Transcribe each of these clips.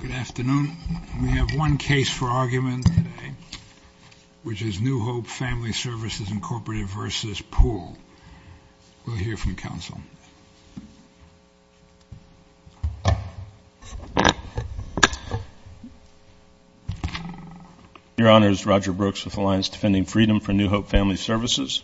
Good afternoon. We have one case for argument today, which is New Hope Family Services, Incorporated v. Poole. We'll hear from counsel. Your Honor, it's Roger Brooks with Alliance Defending Freedom for New Hope Family Services.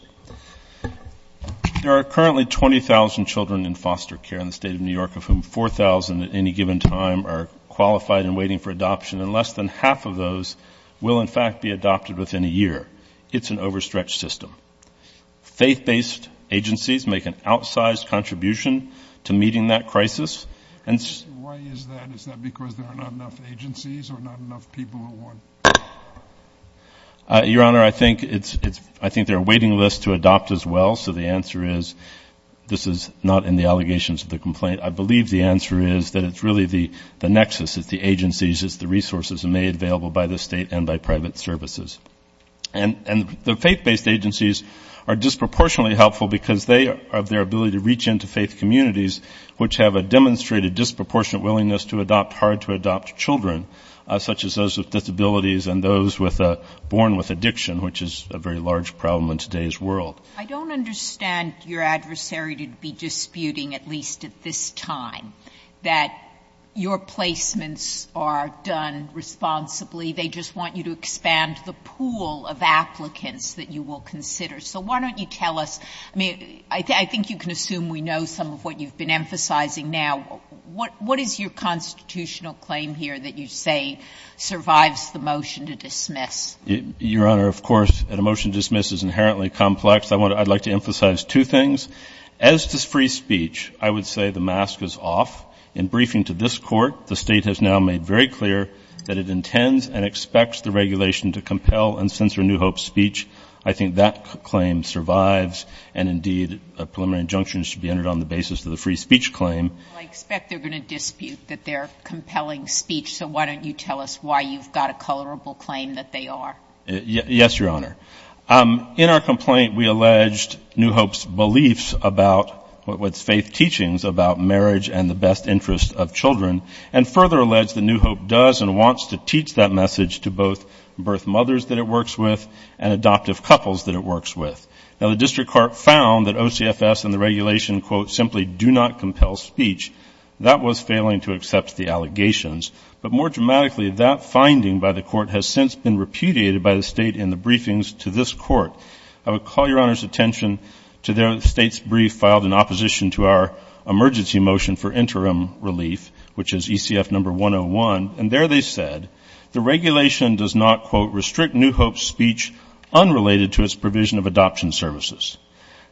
There are currently 20,000 children in foster care in the State of New York, of whom 4,000 at any given time are qualified and waiting for adoption, and less than half of those will, in fact, be adopted within a year. It's an overstretched system. Faith-based agencies make an outsized contribution to meeting that crisis, and... Why is that? Is that because there are not enough agencies or not enough people who want... Your Honor, I think they're a waiting list to adopt as well, so the answer is, this is not in the allegations of the complaint. I believe the answer is that it's really the nexus, it's the agencies, it's the resources made available by the State and by private services. And the faith-based agencies are disproportionately helpful because they have their ability to reach into faith communities, which have a demonstrated disproportionate willingness to adopt hard-to-adopt children, such as those with disabilities and those born with addiction, which is a very large problem in today's world. I don't understand your adversary to be disputing, at least at this time, that your placements are done responsibly. They just want you to expand the pool of applicants that you will consider. So why don't you tell us? I mean, I think you can assume we know some of what you've been emphasizing now. What is your constitutional claim here that you say survives the motion to dismiss? Your Honor, of course, a motion to dismiss is inherently complex. I'd like to emphasize two things. As to free speech, I would say the mask is off. In briefing to this court, the State has now made very clear that it intends and expects the regulation to compel and censor New Hope's speech. I think that claim survives, and indeed, a preliminary injunction should be entered on the basis of the free speech claim. Well, I expect they're going to dispute that they're compelling speech, so why don't you tell us why you've got a colorable claim that they are? Yes, Your Honor. In our complaint, we alleged New Hope's beliefs about what's faith teachings about marriage and the best interest of children, and further alleged that New Hope does and wants to teach that message to both birth mothers that it works with and adoptive couples that it works with. Now, the district court found that OCFS and the regulation, quote, simply do not compel speech. That was failing to accept the allegations. But more dramatically, that finding by the court has since been repudiated by the State in the briefings to this court. I would call Your Honor's attention to the State's brief filed in opposition to our emergency motion for interim relief, which is ECF number 101, and there they said the regulation does not, quote, restrict New Hope's speech unrelated to its provision of adoption services.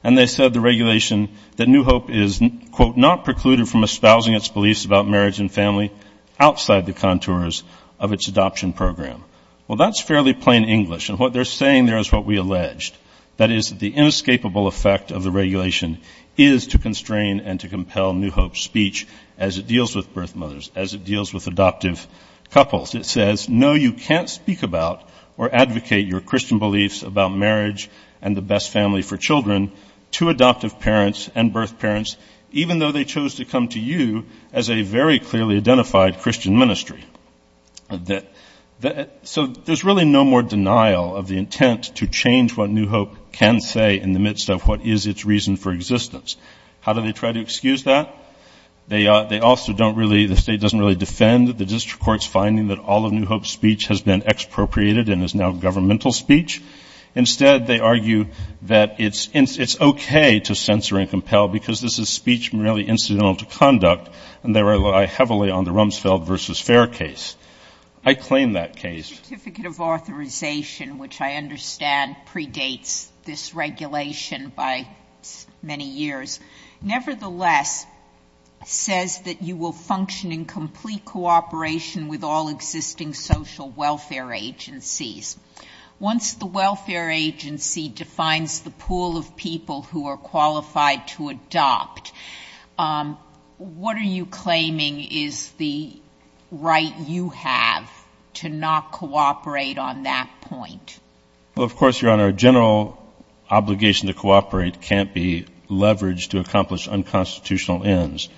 And they said the regulation that New Hope is, quote, not precluded from espousing its beliefs about marriage and family outside the contours of its adoption program. Well, that's fairly plain English. And what they're saying there is what we alleged. That is, the inescapable effect of the regulation is to constrain and to compel New Hope's speech as it deals with birth mothers, as it deals with adoptive couples. It says, no, you can't speak about or advocate your Christian beliefs about marriage and the best family for children to adoptive parents and birth parents, even though they chose to come to you as a very clearly identified Christian ministry. So there's really no more denial of the intent to change what New Hope can say in the midst of what is its reason for existence. How do they try to excuse that? They also don't really, the State doesn't really defend the district court's finding that all of New Hope's speech has been expropriated and is now governmental speech. Instead, they argue that it's okay to censor and compel, because this is speech merely incidental to conduct, and they rely heavily on the Rumsfeld v. Fair case. I claim that case. Sotomayor's certificate of authorization, which I understand predates this regulation by many years, nevertheless says that you will function in complete cooperation with all existing social welfare agencies. Once the welfare agency defines the pool of people who are qualified to adopt, what are you claiming is the right you have to not cooperate on that point? Well, of course, Your Honor, a general obligation to cooperate can't be leveraged to accomplish unconstitutional ends.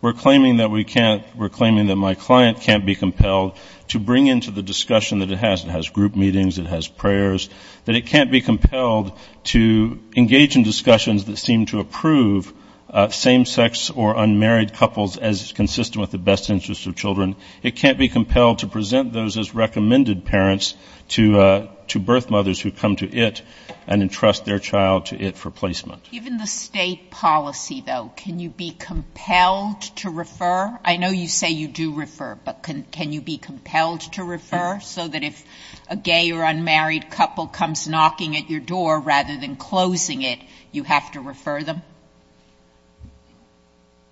We're claiming that we can't, we're claiming that my client can't be compelled to bring into the discussion that it has, it has group meetings, it has prayers, that it can't be compelled to engage in discussions that seem to approve same-sex or unmarried couples as consistent with the best interests of children. It can't be compelled to present those as recommended parents to birth mothers who come to it and entrust their child to it for placement. Given the State policy, though, can you be compelled to refer? I know you say you do refer, but can you be compelled to refer so that if a gay or unmarried couple comes knocking at your door rather than closing it, you have to refer them?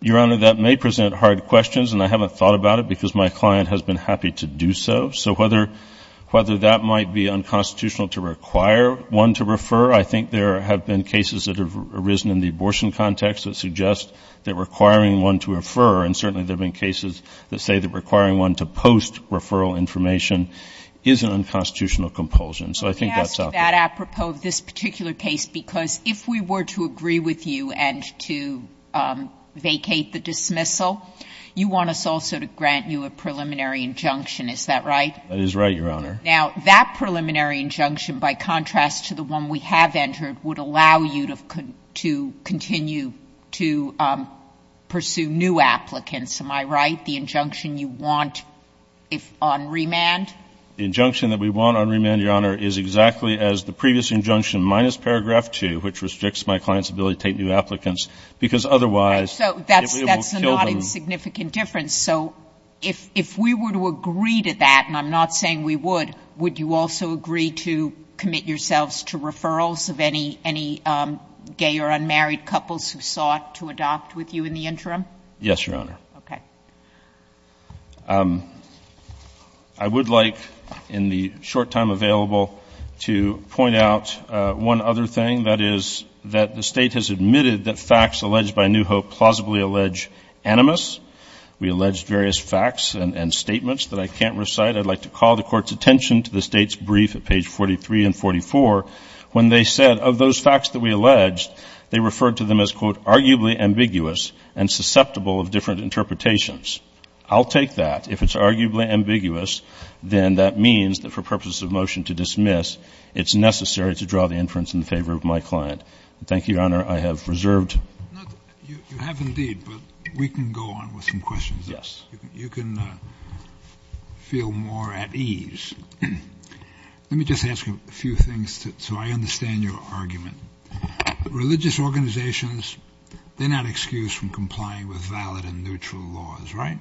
Your Honor, that may present hard questions, and I haven't thought about it because my client has been happy to do so. So whether that might be unconstitutional to require one to refer, I think there have been cases that have arisen in the abortion context that suggest that requiring one to refer, and certainly there have been cases that say that requiring one to post-referral information is an unconstitutional compulsion. So I think that's up there. Sotomayor, let me ask you that apropos of this particular case, because if we were to agree with you and to vacate the dismissal, you want us also to grant you a preliminary injunction, is that right? That is right, Your Honor. Now, that preliminary injunction, by contrast to the one we have entered, would allow you to continue to pursue new applicants, am I right, the injunction you want on remand? The injunction that we want on remand, Your Honor, is exactly as the previous injunction minus paragraph 2, which restricts my client's ability to take new applicants, because otherwise it will kill them. So if we were to agree to that, and I'm not saying we would, would you also agree to commit yourselves to referrals of any gay or unmarried couples who sought to adopt with you in the interim? Yes, Your Honor. Okay. I would like, in the short time available, to point out one other thing, that is that the State has admitted that facts alleged by New Hope plausibly allege animus. We alleged various facts and statements that I can't recite. I'd like to call the Court's attention to the State's brief at page 43 and 44, when they said of those facts that we alleged, they referred to them as, quote, arguably ambiguous and susceptible of different interpretations. I'll take that. If it's arguably ambiguous, then that means that for purposes of motion to dismiss, it's necessary to draw the inference in favor of my client. Thank you, Your Honor. I have reserved. You have indeed, but we can go on with some questions. Yes. You can feel more at ease. Let me just ask you a few things so I understand your argument. Religious organizations, they're not excused from complying with valid and neutral laws, right?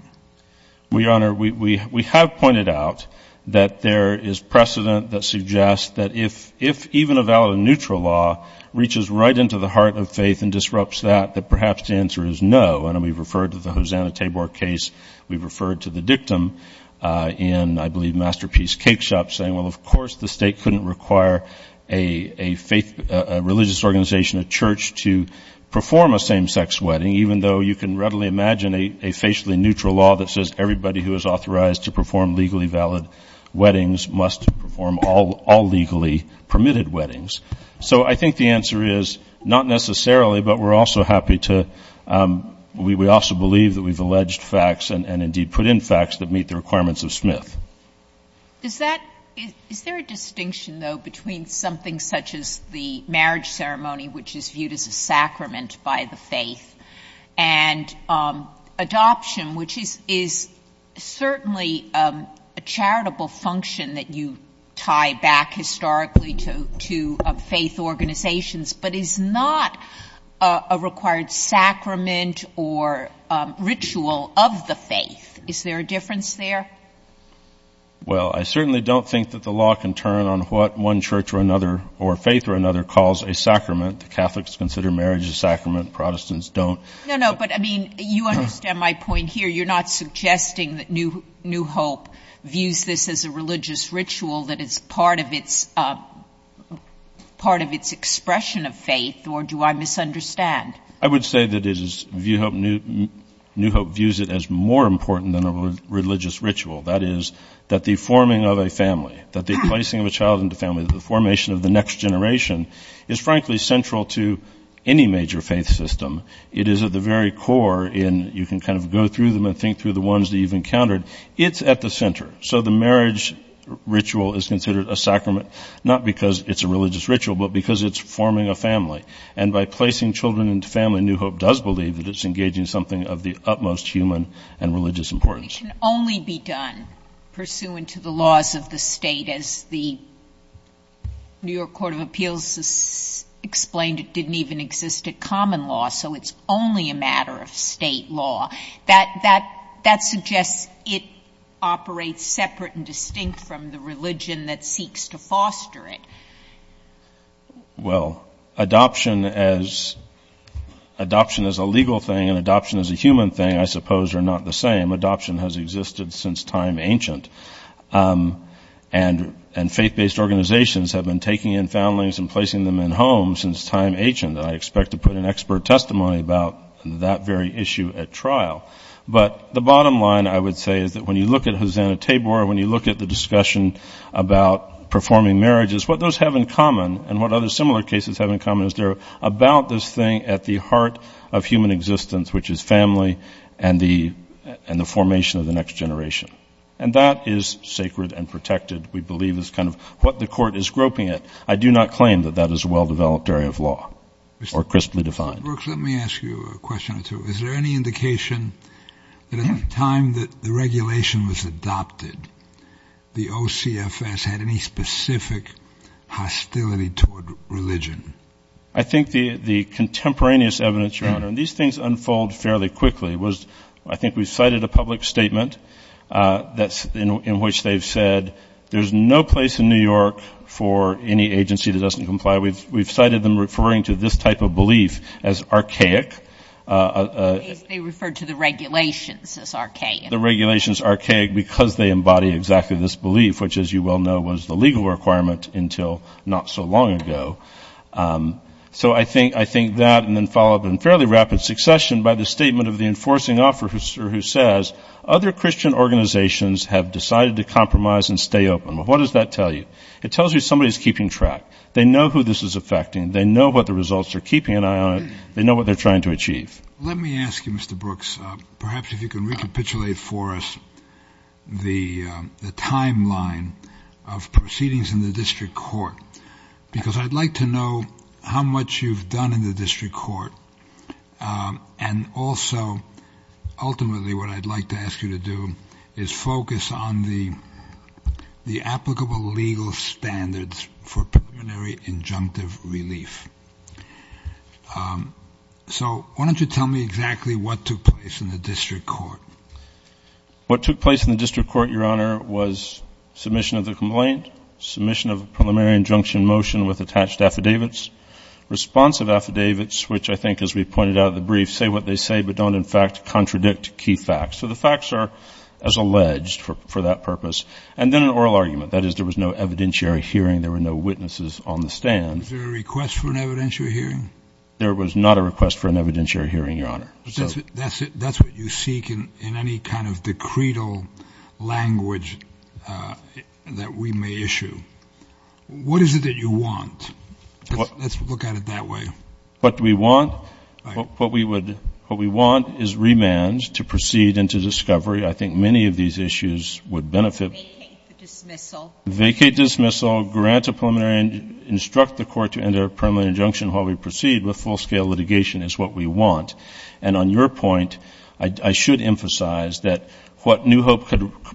Well, Your Honor, we have pointed out that there is precedent that suggests that if even a valid and neutral law reaches right into the heart of faith and disrupts that, that perhaps the answer is no. And we've referred to the Hosanna-Tabor case. We've referred to the dictum in, I believe, Masterpiece Cakeshop, saying, well, of course the State couldn't require a faith, a religious organization, a church to perform a same-sex wedding, even though you can readily imagine a facially neutral law that says everybody who is authorized to perform legally valid weddings must perform all legally permitted weddings. So I think the answer is not necessarily, but we're also happy to, we also believe that we've alleged facts and indeed put in facts that meet the requirements of Smith. Is that, is there a distinction, though, between something such as the marriage ceremony, which is viewed as a sacrament by the faith, and adoption, which is certainly a charitable function that you tie back historically to faith organizations, but is not a required sacrament or ritual of the faith? Is there a difference there? Well, I certainly don't think that the law can turn on what one church or another or faith or another calls a sacrament. Catholics consider marriage a sacrament. Protestants don't. No, no, but I mean, you understand my point here. You're not suggesting that New Hope views this as a religious ritual that is part of its, part of its expression of faith, or do I misunderstand? I would say that it is, New Hope views it as more important than a religious ritual. That is, that the forming of a family, that the placing of a child into family, that the formation of the next generation is frankly central to any major faith system. It is at the very core in, you can kind of go through them and say, well, New Hope believes that a religious ritual is considered a sacrament, not because it's a religious ritual, but because it's forming a family. And by placing children into family, New Hope does believe that it's engaging something of the utmost human and religious importance. It can only be done pursuant to the laws of the State, as the New York Court of Appeals explained it didn't even exist at common law, so it's only a matter of State law. That, that, that suggests it operates separate and it's a religion that seeks to foster it. Well, adoption as, adoption as a legal thing and adoption as a human thing, I suppose, are not the same. Adoption has existed since time ancient. And, and faith-based organizations have been taking in families and placing them in homes since time ancient, and I expect to put an expert testimony about that very issue at trial. But the bottom line, I would say, is that when you look at Hosanna-Tabor, when you look at the discussion about performing marriages, what those have in common, and what other similar cases have in common, is they're about this thing at the heart of human existence, which is family and the, and the formation of the next generation. And that is sacred and protected, we believe, is kind of what the Court is groping at. I do not claim that that is a well-developed area of law or crisply defined. Robert Brooks, let me ask you a question or two. Is there any indication that at the time that the regulation was adopted, the OCFS had any specific hostility toward religion? I think the, the contemporaneous evidence, Your Honor, and these things unfold fairly quickly, was I think we've cited a public statement that's, in which they've said there's no place in New York for any agency that doesn't comply. We've, we've been referring to this type of belief as archaic. They referred to the regulations as archaic. The regulations archaic because they embody exactly this belief, which, as you well know, was the legal requirement until not so long ago. So I think, I think that, and then follow up in fairly rapid succession by the statement of the enforcing officer who says, other Christian organizations have decided to compromise and stay open. Well, what does that tell you? It tells you somebody's keeping track. They know who this is affecting. They know what the results are keeping an eye on it. They know what they're trying to achieve. Let me ask you, Mr. Brooks, perhaps if you can recapitulate for us the timeline of proceedings in the district court, because I'd like to know how much you've done in the district court, and also ultimately what I'd like to ask you to do is focus on the, the applicable legal standards for preliminary injunctive relief. So why don't you tell me exactly what took place in the district court? What took place in the district court, Your Honor, was submission of the complaint, submission of a preliminary injunction motion with attached affidavits, responsive affidavits, which I think, as we pointed out in the brief, say what they say, but don't in fact contradict key facts. So the facts are as alleged for that purpose. And then an oral argument, that is, there was no evidentiary hearing. There were no witnesses on the stand. Is there a request for an evidentiary hearing? There was not a request for an evidentiary hearing, Your Honor. That's what you seek in any kind of decreed language that we may issue. What is it that you want? Let's look at it that way. What do we want? What we would, what we want is remand to proceed into discovery. I think many of these issues would benefit. Vacate the dismissal. Vacate dismissal, grant a preliminary, instruct the court to enter a preliminary injunction while we proceed with full-scale litigation is what we want. And on your point, I should emphasize that what New Hope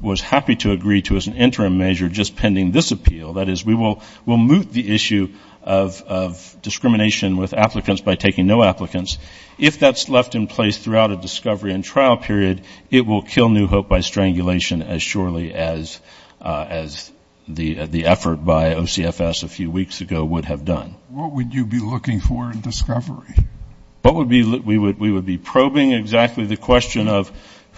was happy to agree to as an interim measure just pending this appeal, that is, we will remove the issue of discrimination with applicants by taking no applicants. If that's left in place throughout a discovery and trial period, it will kill New Hope by strangulation as surely as the effort by OCFS a few weeks ago would have done. What would you be looking for in discovery? What would be, we would be probing exactly the question of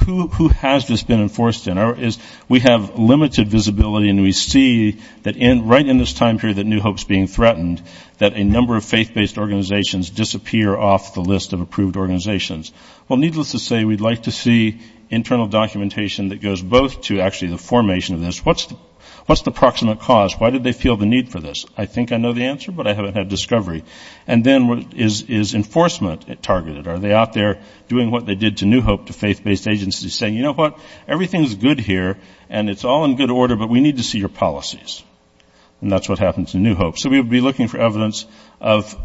who has this been enforced in. We have limited visibility and we see that right in this time period that New Hope is being threatened, that a number of faith-based organizations disappear off the list of approved organizations. Well, needless to say, we'd like to see internal documentation that goes both to actually the formation of this. What's the proximate cause? Why did they feel the need for this? I think I know the answer, but I haven't had discovery. And then is enforcement targeted? Are they out there doing what they did to New Hope, to faith-based agencies, saying, you know what? Everything's good here and it's all in good order, but we need to see your policies. And that's what happens in New Hope. So we would be looking for evidence of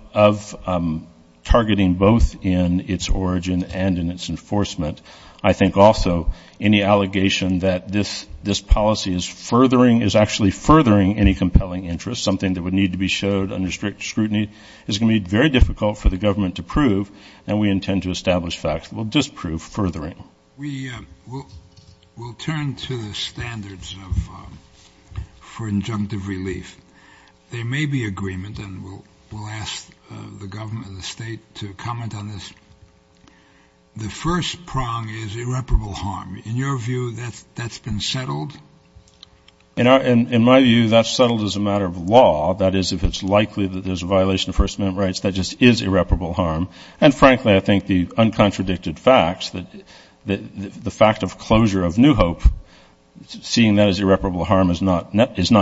targeting both in its origin and in its enforcement. I think also any allegation that this policy is furthering, is actually furthering any compelling interest, something that would need to be showed under strict scrutiny, is going to be very difficult for the government to prove, and we intend to establish facts that will disprove furthering. We'll turn to the standards for injunctive relief. There may be agreement, and we'll ask the government and the state to comment on this. The first prong is irreparable harm. In your view, that's been settled? In my view, that's settled as a matter of law. That is, if it's likely that there's a violation of First Amendment rights, that just is irreparable harm. And frankly, I think the uncontradicted facts, the fact of closure of New Hope, seeing that as irreparable harm is not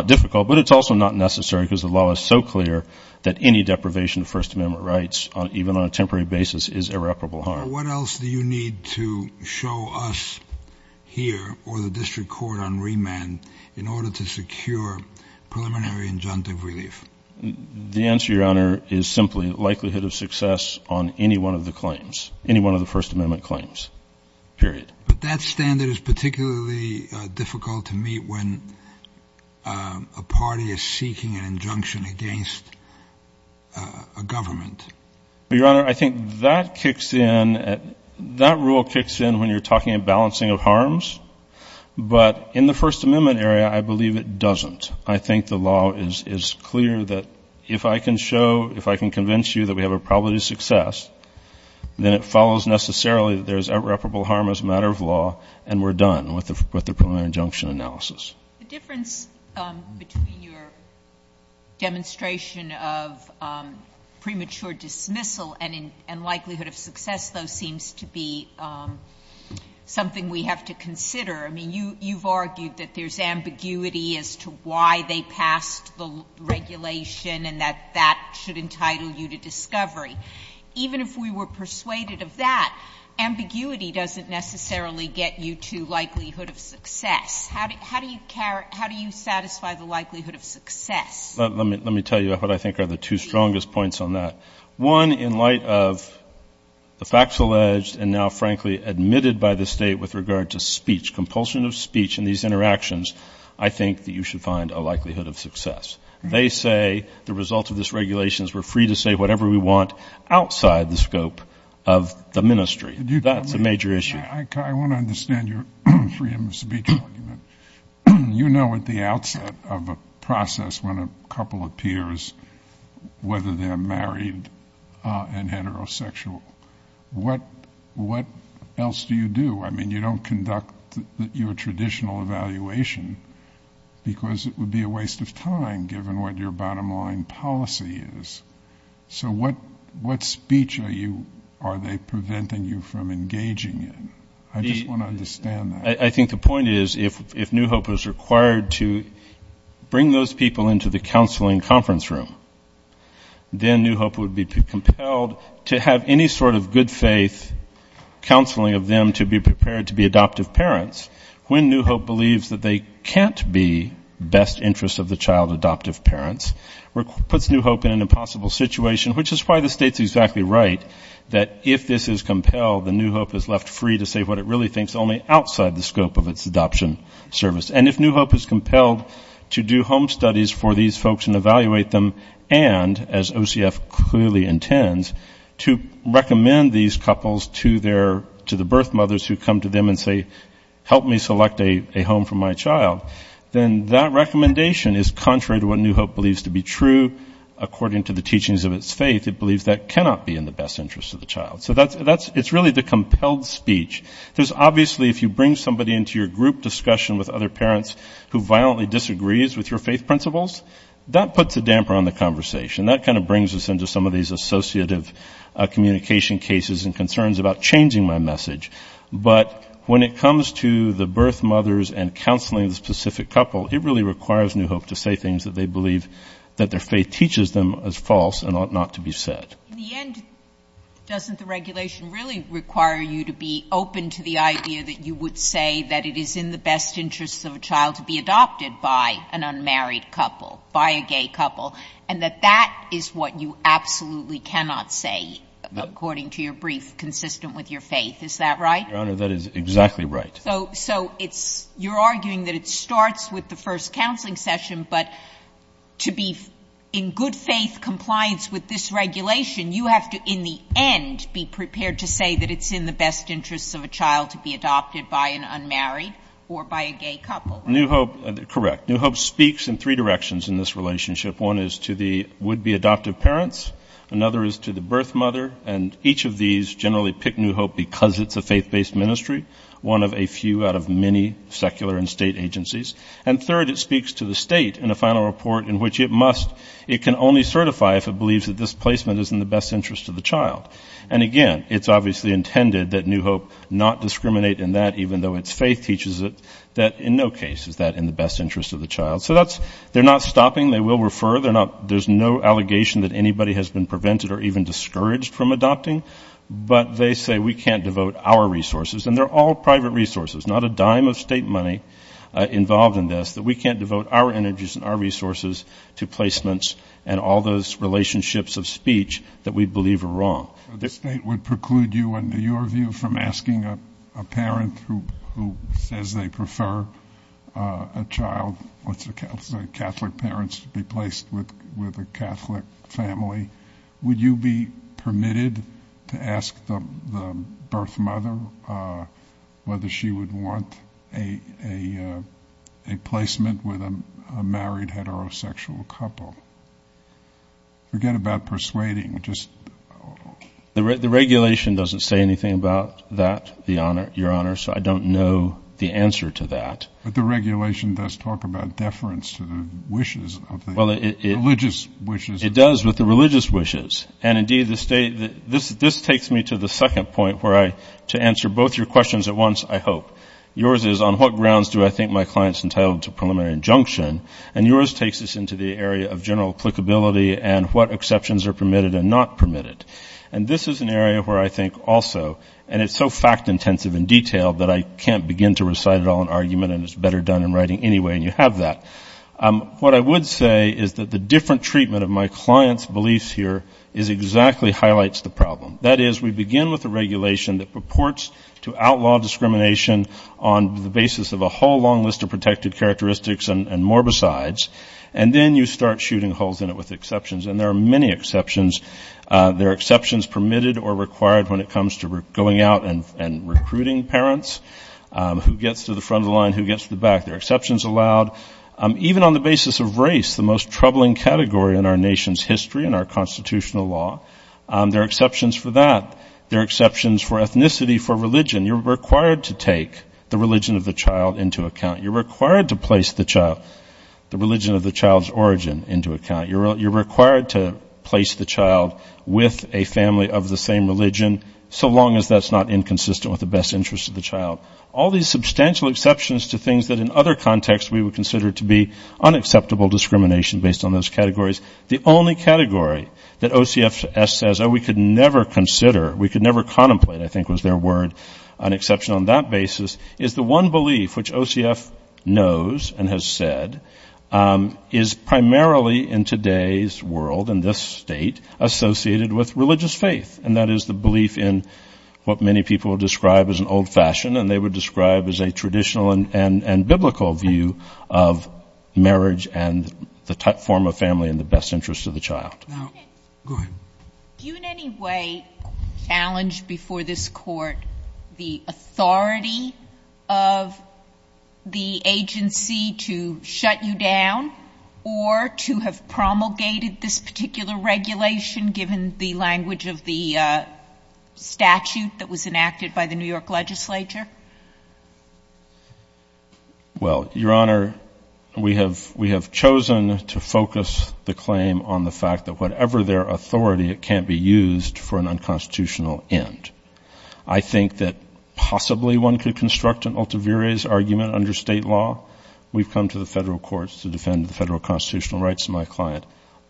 difficult, but it's also not necessary because the law is so clear that any deprivation of First Amendment rights, even on a temporary basis, is irreparable harm. What else do you need to show us here or the district court on remand in order to secure preliminary injunctive relief? The answer, Your Honor, is simply likelihood of success on any one of the claims, any one of the First Amendment claims, period. But that standard is particularly difficult to meet when a party is seeking an injunction against a government. Your Honor, I think that rule kicks in when you're talking about balancing of harms, but in the First Amendment area, I believe it doesn't. I think the law is clear that if I can show, if I can convince you that we have a probability of success, then it follows necessarily that there's irreparable harm as a matter of law, and we're done with the preliminary injunction analysis. The difference between your demonstration of premature dismissal and likelihood of success, though, seems to be something we have to consider. I mean, you've argued that there's ambiguity as to why they passed the regulation and that that should entitle you to discovery. Even if we were persuaded of that, ambiguity doesn't necessarily get you to likelihood of success. How do you satisfy the likelihood of success? Let me tell you what I think are the two strongest points on that. One, in light of the facts alleged and now, frankly, admitted by the State with regard to speech, compulsion of speech in these interactions, I think that you should find a likelihood of success. They say the result of this regulation is we're free to say whatever we want outside the scope of the ministry. That's a major issue. I want to understand your freedom of speech argument. I mean, you don't conduct your traditional evaluation, because it would be a waste of time, given what your bottom line policy is. So what speech are they preventing you from engaging in? I just want to understand that. I think the point is, if New Hope is required to bring those people into the counseling conference room, then New Hope would be compelled to have any sort of good faith counseling of them to be prepared to be adoptive parents, when New Hope believes that they can't be best interest of the child adoptive parents. Puts New Hope in an impossible situation, which is why the State's exactly right that if this is compelled, then New Hope is left free to say what it really thinks only outside the scope of the ministry. And if New Hope is compelled to do home studies for these folks and evaluate them, and as OCF clearly intends, to recommend these couples to the birth mothers who come to them and say, help me select a home for my child, then that recommendation is contrary to what New Hope believes to be true, according to the teachings of its faith. It believes that cannot be in the best interest of the child. So it's really the compelled speech. There's obviously, if you bring somebody into your group discussion with other parents who violently disagrees with your faith principles, that puts a damper on the conversation. That kind of brings us into some of these associative communication cases and concerns about changing my message. But when it comes to the birth mothers and counseling the specific couple, it really requires New Hope to say things that they believe that their faith teaches them as false and ought not to be said. In the end, doesn't the regulation really require you to be open to the idea that you would say that it is in the best interest of a child to be adopted by an unmarried couple, by a gay couple, and that that is what you absolutely cannot say, according to your brief, consistent with your faith? Is that right? Your Honor, that is exactly right. So you're arguing that it starts with the first counseling session, but to be in good faith compliance with this regulation, you have to, in the end, be prepared to say that it's in the best interest of a child to be adopted by an unmarried or by a gay couple. Correct. New Hope speaks in three directions in this relationship. One is to the would-be adoptive parents, another is to the birth mother, and each of these generally pick New Hope because it's a faith-based ministry, one of a few out of many secular and state agencies. And third, it speaks to the state in a final report in which it must, it can only certify if it believes that this placement is in the best interest of the child. And again, it's obviously intended that New Hope not discriminate in that, even though its faith teaches it that in no case is that in the best interest of the child. So that's, they're not stopping, they will refer, they're not, there's no allegation that anybody has been prevented or even discouraged from adopting. But they say we can't devote our resources, and they're all private resources, not a dime of state money involved in this, that we can't devote our energies and our resources to placements and all those relationships of speech that we believe are wrong. The state would preclude you, in your view, from asking a parent who says they prefer a child. Catholic parents to be placed with a Catholic family, would you be permitted to ask the birth mother whether she would want a placement with a married heterosexual couple? Forget about persuading, just... The regulation doesn't say anything about that, Your Honor, so I don't know the answer to that. But the regulation does talk about deference to the wishes of the religious wishes. It does with the religious wishes, and indeed the state, this takes me to the second point where I, to answer both your questions at once, I hope. Yours is, on what grounds do I think my client's entitled to preliminary injunction? And yours takes us into the area of general applicability and what exceptions are permitted and not permitted. And this is an area where I think also, and it's so fact-intensive and detailed that I can't begin to recite it all in argument and as a matter of fact, it's better done in writing anyway, and you have that. What I would say is that the different treatment of my client's beliefs here is exactly highlights the problem. That is, we begin with a regulation that purports to outlaw discrimination on the basis of a whole long list of protected characteristics and morbicides, and then you start shooting holes in it with exceptions. And there are many exceptions. There are exceptions permitted or required when it comes to going out and recruiting parents, who gets to the front of the line, who gets to the back. There are exceptions allowed even on the basis of race, the most troubling category in our nation's history and our constitutional law. There are exceptions for that. There are exceptions for ethnicity, for religion. You're required to take the religion of the child into account. You're required to place the child, the religion of the child's origin, into account. You're required to place the child with a family of the same religion, so long as that's not inconsistent with the best interest of the child. All these substantial exceptions to things that in other contexts we would consider to be unacceptable discrimination based on those categories. The only category that OCFS says, oh, we could never consider, we could never contemplate, I think was their word, on the basis of race, an exception on that basis, is the one belief which OCF knows and has said is primarily in today's world, in this state, associated with religious faith. And that is the belief in what many people would describe as an old-fashioned, and they would describe as a traditional and biblical view of marriage and the form of family in the best interest of the child. Now, go ahead. Do you in any way challenge before this court the authority of the agency to shut you down, or to have promulgated this particular regulation, given the language of the statute that was enacted by the New York legislature? Well, Your Honor, we have chosen to focus the claim on the fact that whatever their authority, it can't be used for an unconstitutional end. I think that possibly one could construct an ultimares argument under state law. We've come to the federal courts to defend the federal constitutional rights of my client.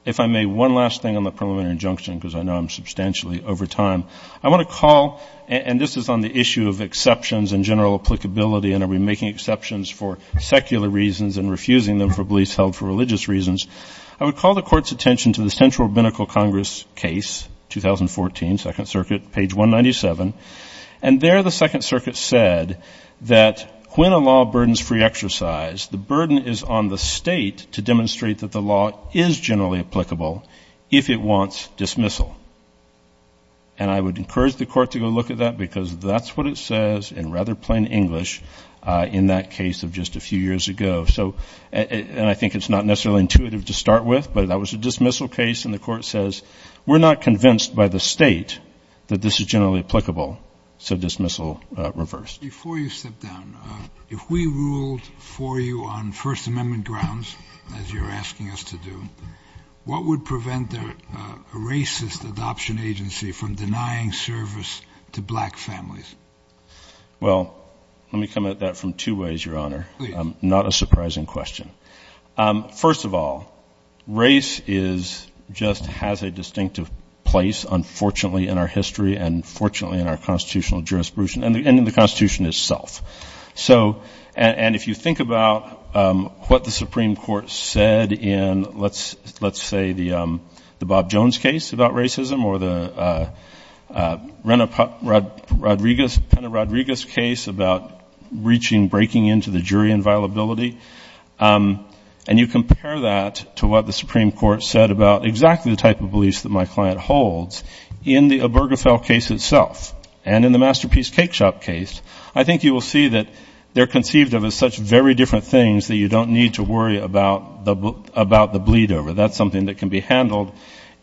If I may, one last thing on the preliminary injunction, because I know I'm substantially over time. I want to call, and this is on the issue of exceptions and general applicability, and are we making exceptions for secular reasons and refusing them for beliefs held for religious reasons? I would call the court's attention to the Central Rabbinical Congress case, 2014, Second Circuit, page 197. And there the Second Circuit said that when a law burdens free exercise, the burden is on the state to demonstrate that the law is generally applicable, if it wants dismissal. And I would encourage the court to go look at that, because that's what it says in rather plain English in that case of just a few years ago. And I think it's not necessarily intuitive to start with, but that was a dismissal case, and the court says we're not convinced by the state that this is generally applicable, so dismissal reversed. Before you step down, if we ruled for you on First Amendment grounds, as you're asking us to do, what would prevent a racist adoption agency from denying service to black families? Well, let me come at that from two ways, Your Honor. Not a surprising question. First of all, race just has a distinctive place, unfortunately, in our history and fortunately in our constitutional jurisprudence and in the Constitution itself. And if you think about what the Supreme Court said in, let's say, the Bob Jones case about racism or the Pena-Rodriguez case about breaching, breaking into the jury inviolability, and you compare that to what the Supreme Court said about exactly the type of beliefs that my client holds in the Obergefell case itself and in the Masterpiece Cakeshop case, I think you will see that they're conceived of as such very different things that you don't need to worry about the bleed-over. That's something that can be handled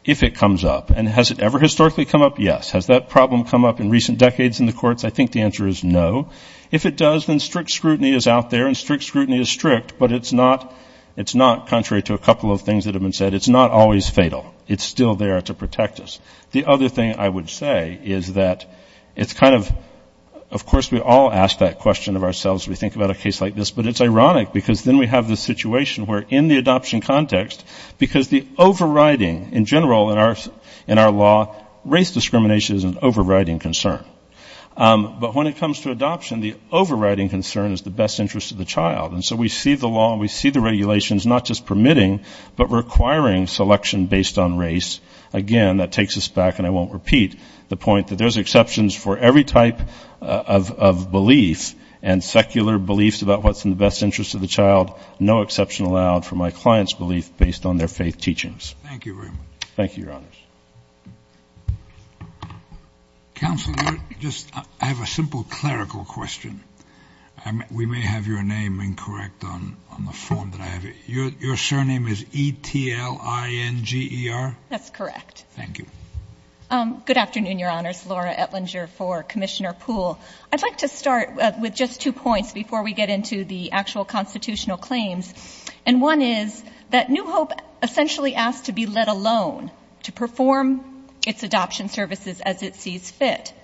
if it comes up. And has it ever historically come up? Yes. Has that problem come up in recent decades in the courts? I think the answer is no. If it does, then strict scrutiny is out there, and strict scrutiny is strict, but it's not, contrary to a couple of things that have been said, it's not always fatal. It's still there to protect us. I think we all ask that question of ourselves when we think about a case like this, but it's ironic, because then we have this situation where in the adoption context, because the overriding, in general, in our law, race discrimination is an overriding concern. But when it comes to adoption, the overriding concern is the best interest of the child. And so we see the law and we see the regulations not just permitting, but requiring selection based on race. Again, that takes us back, and I won't repeat, the point that there's exceptions for every type of discrimination. There's exceptions for every type of belief, and secular beliefs about what's in the best interest of the child. No exception allowed for my client's belief based on their faith teachings. Thank you very much. Thank you, Your Honors. Counsel, I have a simple clerical question. We may have your name incorrect on the form that I have. Your surname is E-T-L-I-N-G-E-R? That's correct. Thank you. Good afternoon, Your Honors. Laura Etlinger for Commissioner Poole. I'd like to start with just two points before we get into the actual constitutional claims. And one is that New Hope essentially asks to be let alone to perform its adoption services as it sees fit.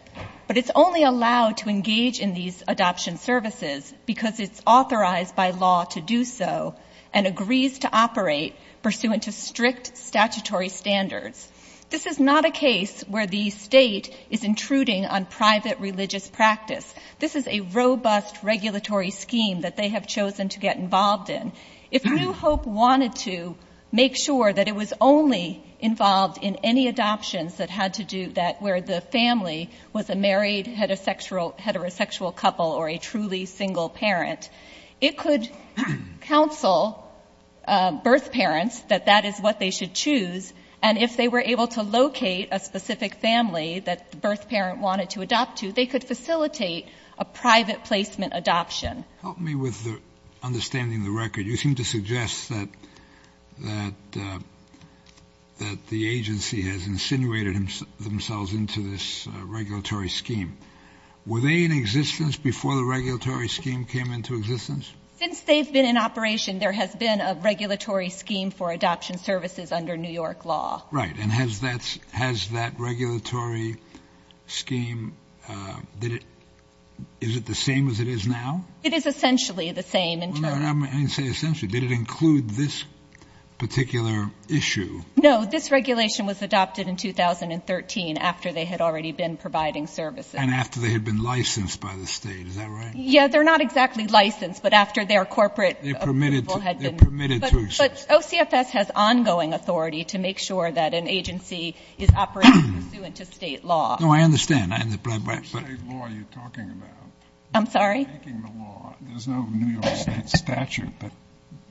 But it's only allowed to engage in these adoption services because it's authorized by law to do so and agrees to operate pursuant to strict statutory standards. This is not a case where the state is intruding on private religious practice. This is a robust regulatory scheme that they have chosen to get involved in. If New Hope wanted to make sure that it was only involved in any adoptions that had to do that, where the family was a married heterosexual couple or a truly single parent, it could counsel birth parents that that is what they should choose. And if they were able to locate a specific family that the birth parent wanted to adopt to, they could facilitate a private placement adoption. Help me with understanding the record. You seem to suggest that the agency has insinuated themselves into this regulatory scheme. Were they in existence before the regulatory scheme came into existence? Since they've been in operation, there has been a regulatory scheme for adoption services under New York law. Right. And has that regulatory scheme, is it the same as it is now? It is essentially the same. Did it include this particular issue? No, this regulation was adopted in 2013 after they had already been providing services. And after they had been licensed by the state, is that right? Yeah, they're not exactly licensed, but after their corporate approval had been. But OCFS has ongoing authority to make sure that an agency is operating pursuant to state law. No, I understand. I'm sorry?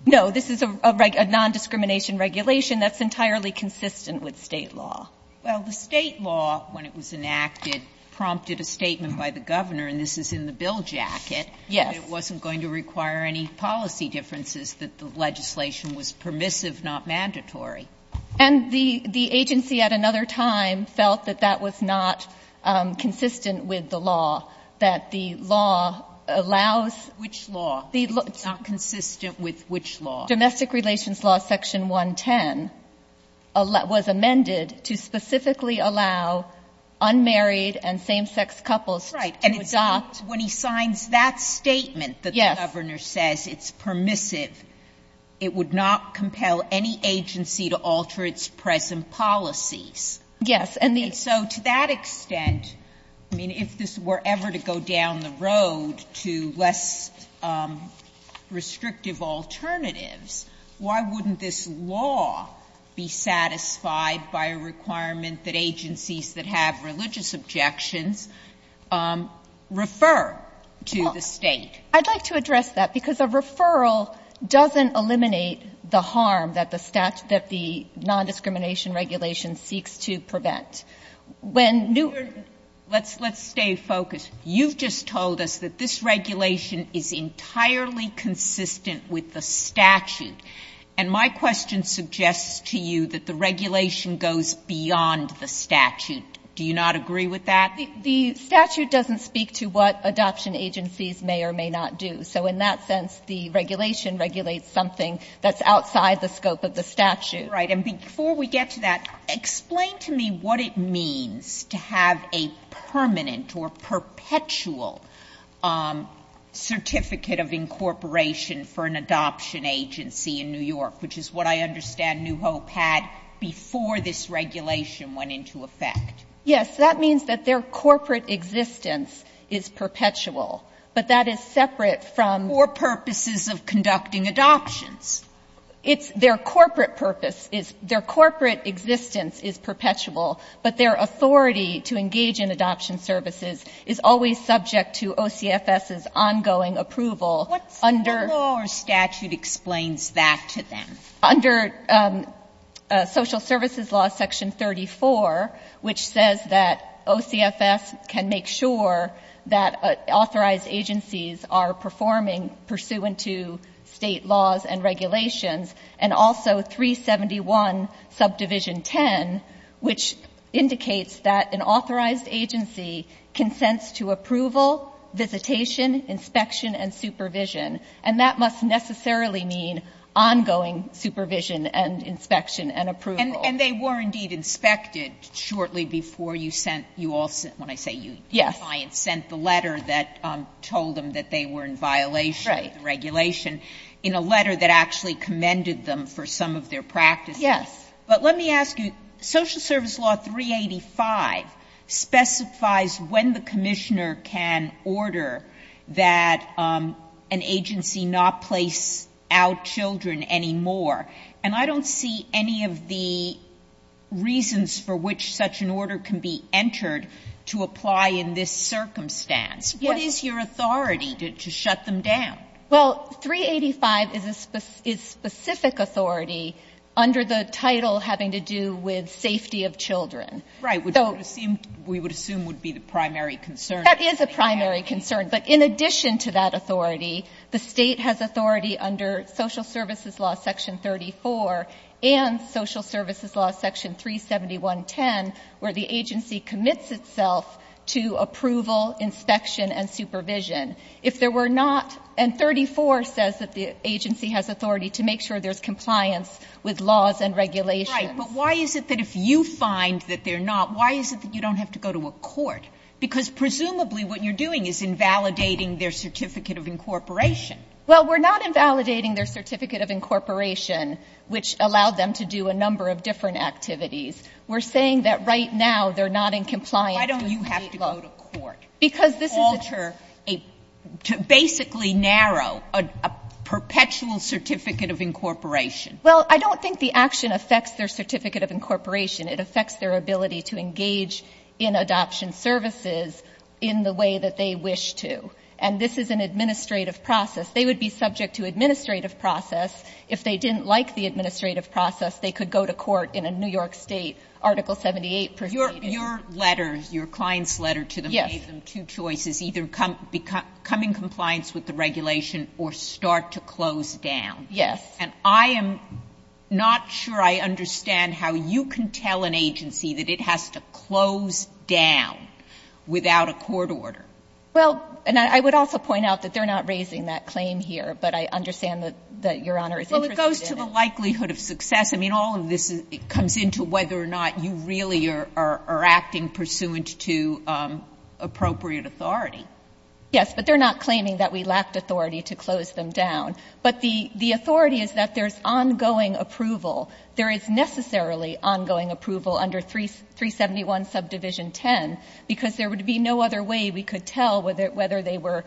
No, this is a nondiscrimination regulation that's entirely consistent with state law. Well, the state law, when it was enacted, prompted a statement by the governor, and this is in the bill jacket, that it wasn't going to require any policy differences, that the legislation was permissive, not mandatory. And the agency at another time felt that that was not consistent with the law, that the law allows. Which law? It's not consistent with which law? Domestic relations law section 110 was amended to specifically allow unmarried and same-sex couples to adopt. But when he signs that statement that the governor says it's permissive, it would not compel any agency to alter its present policies. Yes, and the — And so to that extent, I mean, if this were ever to go down the road to less restrictive alternatives, why wouldn't this law be satisfied by a requirement that agencies that have religious objections refer to the State? Well, I'd like to address that, because a referral doesn't eliminate the harm that the nondiscrimination regulation seeks to prevent. When New— Let's stay focused. You've just told us that this regulation is entirely consistent with the statute. And my question suggests to you that the regulation goes beyond the statute. Do you not agree with that? The statute doesn't speak to what adoption agencies may or may not do. So in that sense, the regulation regulates something that's outside the scope of the statute. Right. And before we get to that, explain to me what it means to have a permanent or perpetual certificate of incorporation for an adoption agency in New York, which is what I understand New Hope had before this regulation went into effect. Yes. That means that their corporate existence is perpetual, but that is separate from— Or purposes of conducting adoptions. It's their corporate purpose is — their corporate existence is perpetual, but their authority to engage in adoption services is always subject to OCFS's ongoing approval under— What law or statute explains that to them? Under Social Services Law section 34, which says that OCFS can make sure that authorized agencies are performing pursuant to State laws and regulations, and also 371 subdivision 10, which indicates that an authorized agency consents to approval, visitation, inspection, and supervision. And that must necessarily mean ongoing supervision and inspection and approval. And they were, indeed, inspected shortly before you sent — you all sent — when I say you, your clients sent the letter that told them that they were in violation of the regulation in a letter that actually commended them for some of their practices. Yes. But let me ask you, Social Service Law 385 specifies when the commissioner can order that an agency not place out children anymore. And I don't see any of the reasons for which such an order can be entered to apply in this circumstance. What is your authority to shut them down? Well, 385 is a specific authority under the title having to do with safety of children. Right. We would assume would be the primary concern. That is a primary concern. But in addition to that authority, the State has authority under Social Services Law section 34 and Social Services Law section 371.10, where the agency commits itself to approval, inspection, and supervision. If there were not — and 34 says that the agency has authority to make sure there's compliance with laws and regulations. Right. But why is it that if you find that they're not, why is it that you don't have to go to a court? Because presumably what you're doing is invalidating their Certificate of Incorporation. Well, we're not invalidating their Certificate of Incorporation, which allowed them to do a number of different activities. We're saying that right now they're not in compliance with State law. Why don't you have to go to court? Because this is a — To alter a — to basically narrow a perpetual Certificate of Incorporation. Well, I don't think the action affects their Certificate of Incorporation. It affects their ability to engage in adoption services in the way that they wish to. And this is an administrative process. They would be subject to administrative process. If they didn't like the administrative process, they could go to court in a New York State Article 78 proceeding. Your letter, your client's letter to them gave them two choices, either come in compliance with the regulation or start to close down. Yes. And I am not sure I understand how you can tell an agency that it has to close down without a court order. Well, and I would also point out that they're not raising that claim here, but I understand that Your Honor is interested in it. Well, it goes to the likelihood of success. I mean, all of this comes into whether or not you really are acting pursuant to appropriate authority. Yes. But they're not claiming that we lacked authority to close them down. But the authority is that there's ongoing approval. There is necessarily ongoing approval under 371 Subdivision 10, because there would be no other way we could tell whether they were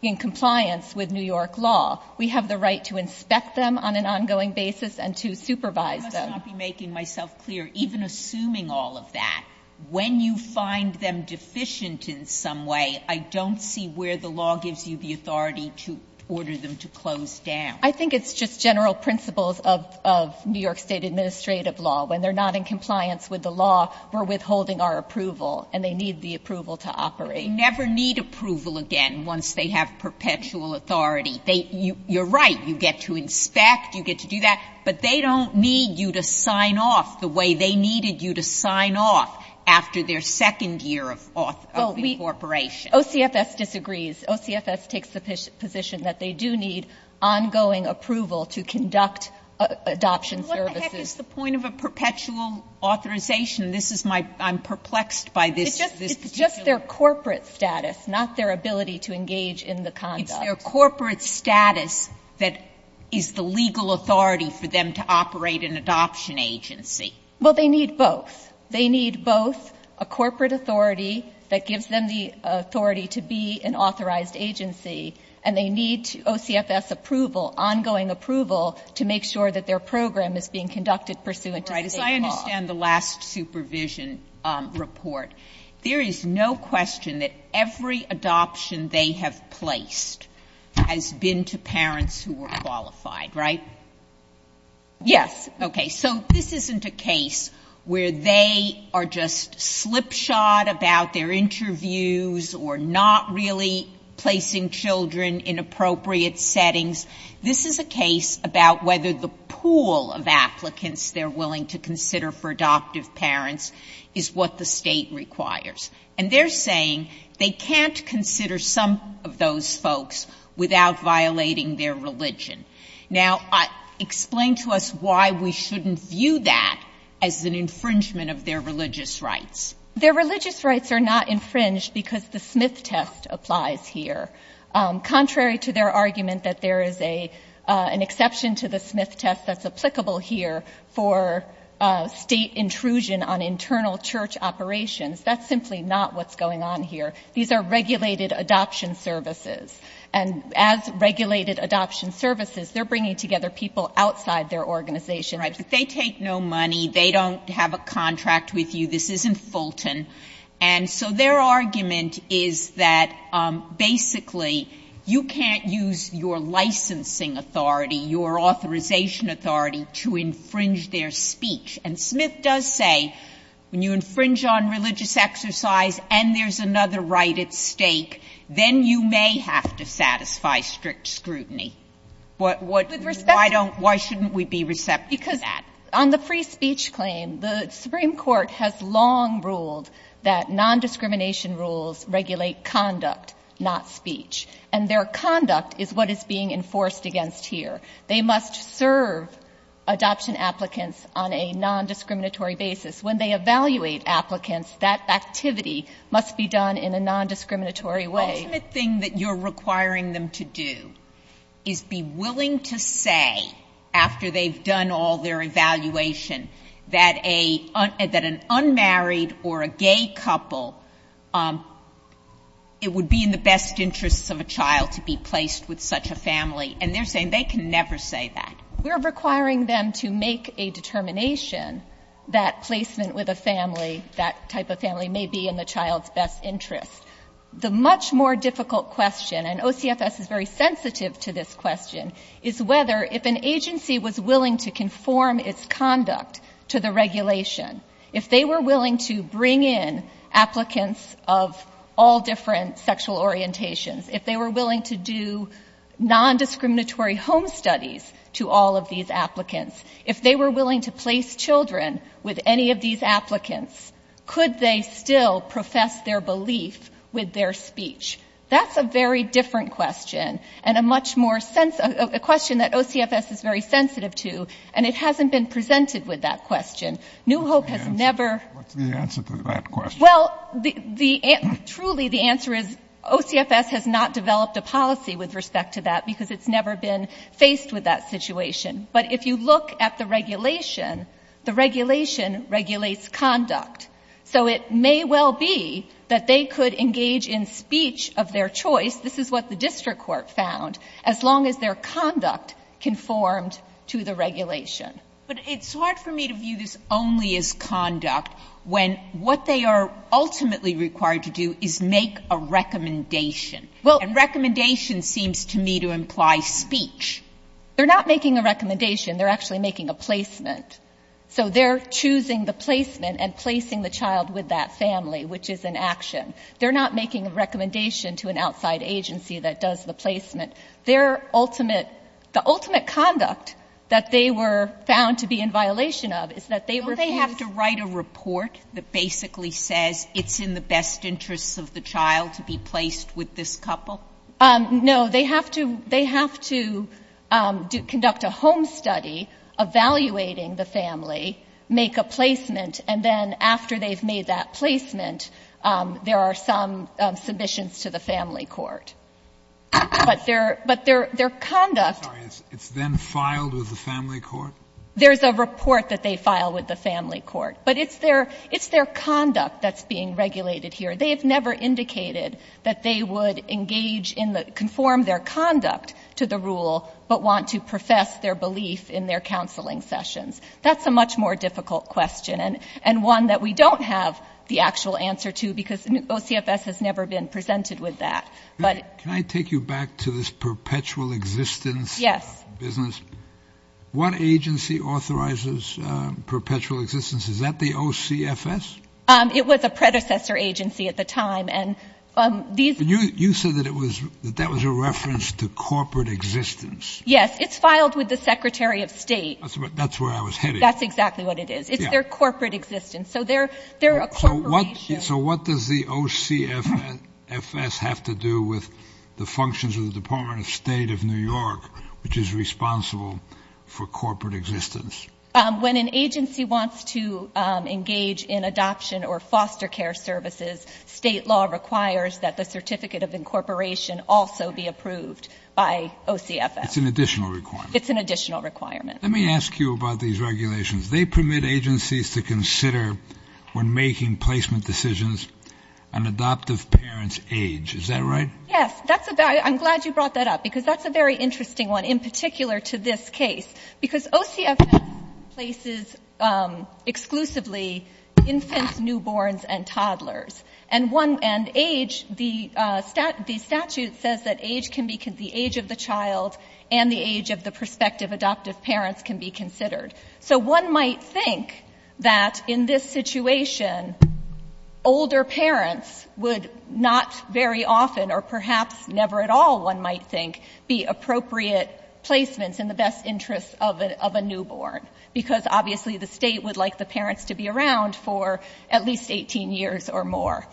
in compliance with New York law. We have the right to inspect them on an ongoing basis and to supervise them. I must not be making myself clear, even assuming all of that. When you find them deficient in some way, I don't see where the law gives you the authority to order them to close down. I think it's just general principles of New York State administrative law. When they're not in compliance with the law, we're withholding our approval, and they need the approval to operate. They never need approval again once they have perpetual authority. You're right. You get to inspect. You get to do that. But they don't need you to sign off the way they needed you to sign off after their second year of corporation. OCFS disagrees. OCFS takes the position that they do need ongoing approval to conduct adoption services. And what the heck is the point of a perpetual authorization? This is my – I'm perplexed by this. It's just their corporate status, not their ability to engage in the conduct. It's their corporate status that is the legal authority for them to operate an adoption agency. Well, they need both. They need both a corporate authority that gives them the authority to be an authorized agency, and they need OCFS approval, ongoing approval, to make sure that their program is being conducted pursuant to State law. I understand the last supervision report. There is no question that every adoption they have placed has been to parents who were qualified, right? Yes. Okay. So this isn't a case where they are just slipshod about their interviews or not really placing children in appropriate settings. This is a case about whether the pool of applicants they're willing to consider for adoptive parents is what the State requires. And they're saying they can't consider some of those folks without violating their religion. Now, explain to us why we shouldn't view that as an infringement of their religious rights. Their religious rights are not infringed because the Smith test applies here. Contrary to their argument that there is an exception to the Smith test that's simply not what's going on here. These are regulated adoption services. And as regulated adoption services, they're bringing together people outside their organization. Right. But they take no money. They don't have a contract with you. This isn't Fulton. And so their argument is that basically you can't use your licensing authority, your authorization authority to infringe their speech. And Smith does say when you infringe on religious exercise and there's another right at stake, then you may have to satisfy strict scrutiny. But why shouldn't we be receptive to that? Because on the free speech claim, the Supreme Court has long ruled that nondiscrimination rules regulate conduct, not speech. And their conduct is what is being enforced against here. They must serve adoption applicants on a nondiscriminatory basis. When they evaluate applicants, that activity must be done in a nondiscriminatory way. Ultimate thing that you're requiring them to do is be willing to say, after they've done all their evaluation, that an unmarried or a gay couple, it would be in the best interests of a child to be placed with such a family. And they're saying they can never say that. We're requiring them to make a determination that placement with a family, that type of family, may be in the child's best interest. The much more difficult question, and OCFS is very sensitive to this question, is whether, if an agency was willing to conform its conduct to the regulation, if they were willing to bring in applicants of all different sexual orientations, if they were willing to do nondiscriminatory home studies to all of these applicants, if they were willing to place children with any of these applicants, could they still profess their belief with their speech? That's a very different question and a much more sensitive question that OCFS is very sensitive to, and it hasn't been presented with that question. New Hope has never — What's the answer to that question? Well, the — truly, the answer is OCFS has not developed a policy with respect to that because it's never been faced with that situation. But if you look at the regulation, the regulation regulates conduct. So it may well be that they could engage in speech of their choice. This is what the district court found, as long as their conduct conformed to the regulation. But it's hard for me to view this only as conduct when what they are ultimately required to do is make a recommendation. Well — And recommendation seems to me to imply speech. They're not making a recommendation. They're actually making a placement. So they're choosing the placement and placing the child with that family, which is an action. They're not making a recommendation to an outside agency that does the placement. Their ultimate — the ultimate conduct that they were found to be in violation of is that they refused — Don't they have to write a report that basically says it's in the best interests of the child to be placed with this couple? No. They have to — they have to conduct a home study evaluating the family, make a placement, and then after they've made that placement, there are some submissions to the family court. But their — but their conduct — I'm sorry. It's then filed with the family court? There's a report that they file with the family court. But it's their — it's their conduct that's being regulated here. They have never indicated that they would engage in the — conform their conduct to the rule, but want to profess their belief in their counseling sessions. That's a much more difficult question, and one that we don't have the actual answer to because OCFS has never been presented with that. But — Can I take you back to this perpetual existence business? Yes. What agency authorizes perpetual existence? Is that the OCFS? It was a predecessor agency at the time, and these — You said that it was — that that was a reference to corporate existence. Yes. It's filed with the secretary of state. That's where I was heading. That's exactly what it is. It's their corporate existence. So they're a corporation. So what does the OCFS have to do with the functions of the Department of State of New York, which is responsible for corporate existence? When an agency wants to engage in adoption or foster care services, state law requires that the certificate of incorporation also be approved by OCFS. It's an additional requirement. It's an additional requirement. Let me ask you about these regulations. They permit agencies to consider, when making placement decisions, an adoptive parent's age. Is that right? Yes. I'm glad you brought that up because that's a very interesting one, in particular to this case. Because OCFS places exclusively infants, newborns, and toddlers. And age, the statute says that age can be — the age of the child and the age of the prospective adoptive parents can be considered. So one might think that, in this situation, older parents would not very often or perhaps never at all, one might think, be appropriate placements in the best interest of a newborn. Because, obviously, the state would like the parents to be around for at least 18 years or more.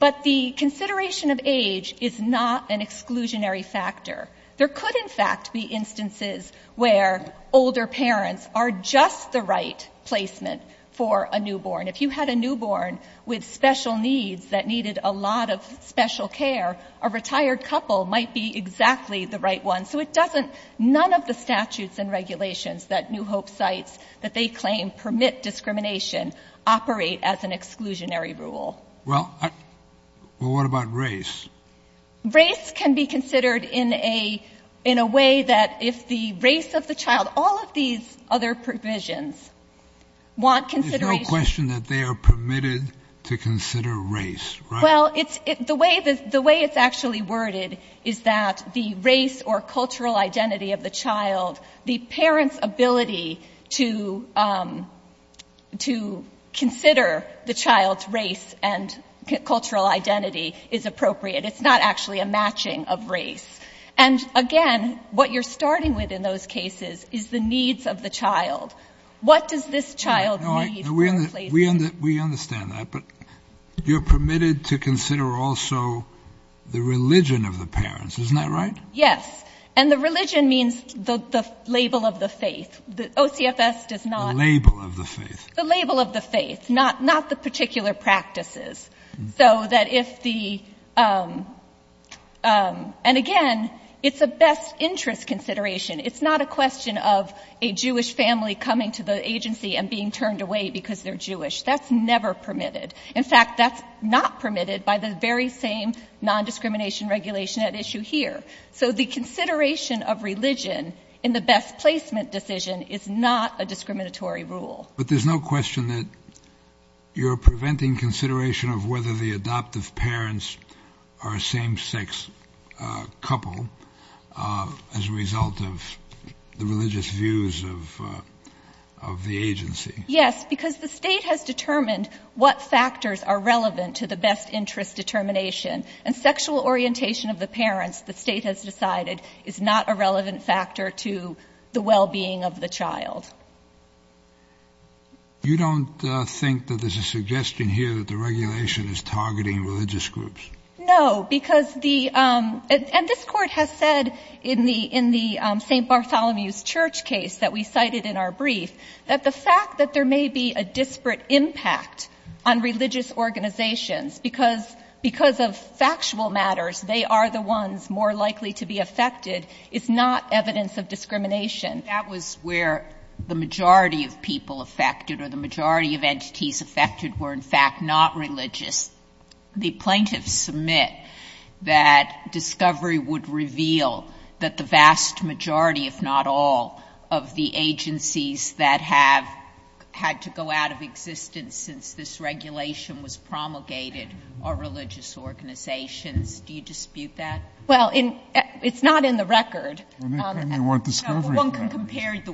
But the consideration of age is not an exclusionary factor. There could, in fact, be instances where older parents are just the right placement for a newborn. If you had a newborn with special needs that needed a lot of special care, a retired couple might be exactly the right one. So it doesn't — none of the statutes and regulations that New Hope cites, that they claim permit discrimination, operate as an exclusionary rule. Well, what about race? Race can be considered in a way that if the race of the child — all of these other provisions want consideration — There's no question that they are permitted to consider race, right? Well, it's — the way it's actually worded is that the race or cultural identity of the child, the parent's ability to consider the child's race and cultural identity is appropriate. It's not actually a matching of race. And, again, what you're starting with in those cases is the needs of the child. What does this child need for a placement? We understand that, but you're permitted to consider also the religion of the parents. Isn't that right? Yes. And the religion means the label of the faith. OCFS does not — The label of the faith. The label of the faith, not the particular practices. So that if the — and, again, it's a best interest consideration. It's not a question of a Jewish family coming to the agency and being turned away because they're Jewish. That's never permitted. In fact, that's not permitted by the very same nondiscrimination regulation at issue here. So the consideration of religion in the best placement decision is not a discriminatory rule. But there's no question that you're preventing consideration of whether the adoptive parents are a same-sex couple as a result of the religious views of the agency. Yes, because the State has determined what factors are relevant to the best interest determination. And sexual orientation of the parents, the State has decided, is not a relevant factor to the well-being of the child. You don't think that there's a suggestion here that the regulation is targeting religious groups? No, because the — and this Court has said in the St. Bartholomew's Church case that we cited in our brief, that the fact that there may be a disparate impact on religious organizations because of factual matters, they are the ones more likely to be affected, is not evidence of discrimination. That was where the majority of people affected or the majority of entities affected were, in fact, not religious. The plaintiffs submit that discovery would reveal that the vast majority, if not all, of the agencies that have had to go out of existence since this regulation was promulgated are religious organizations. Do you dispute that? Well, in — it's not in the record. I mean, what discovery? No, but one can compare the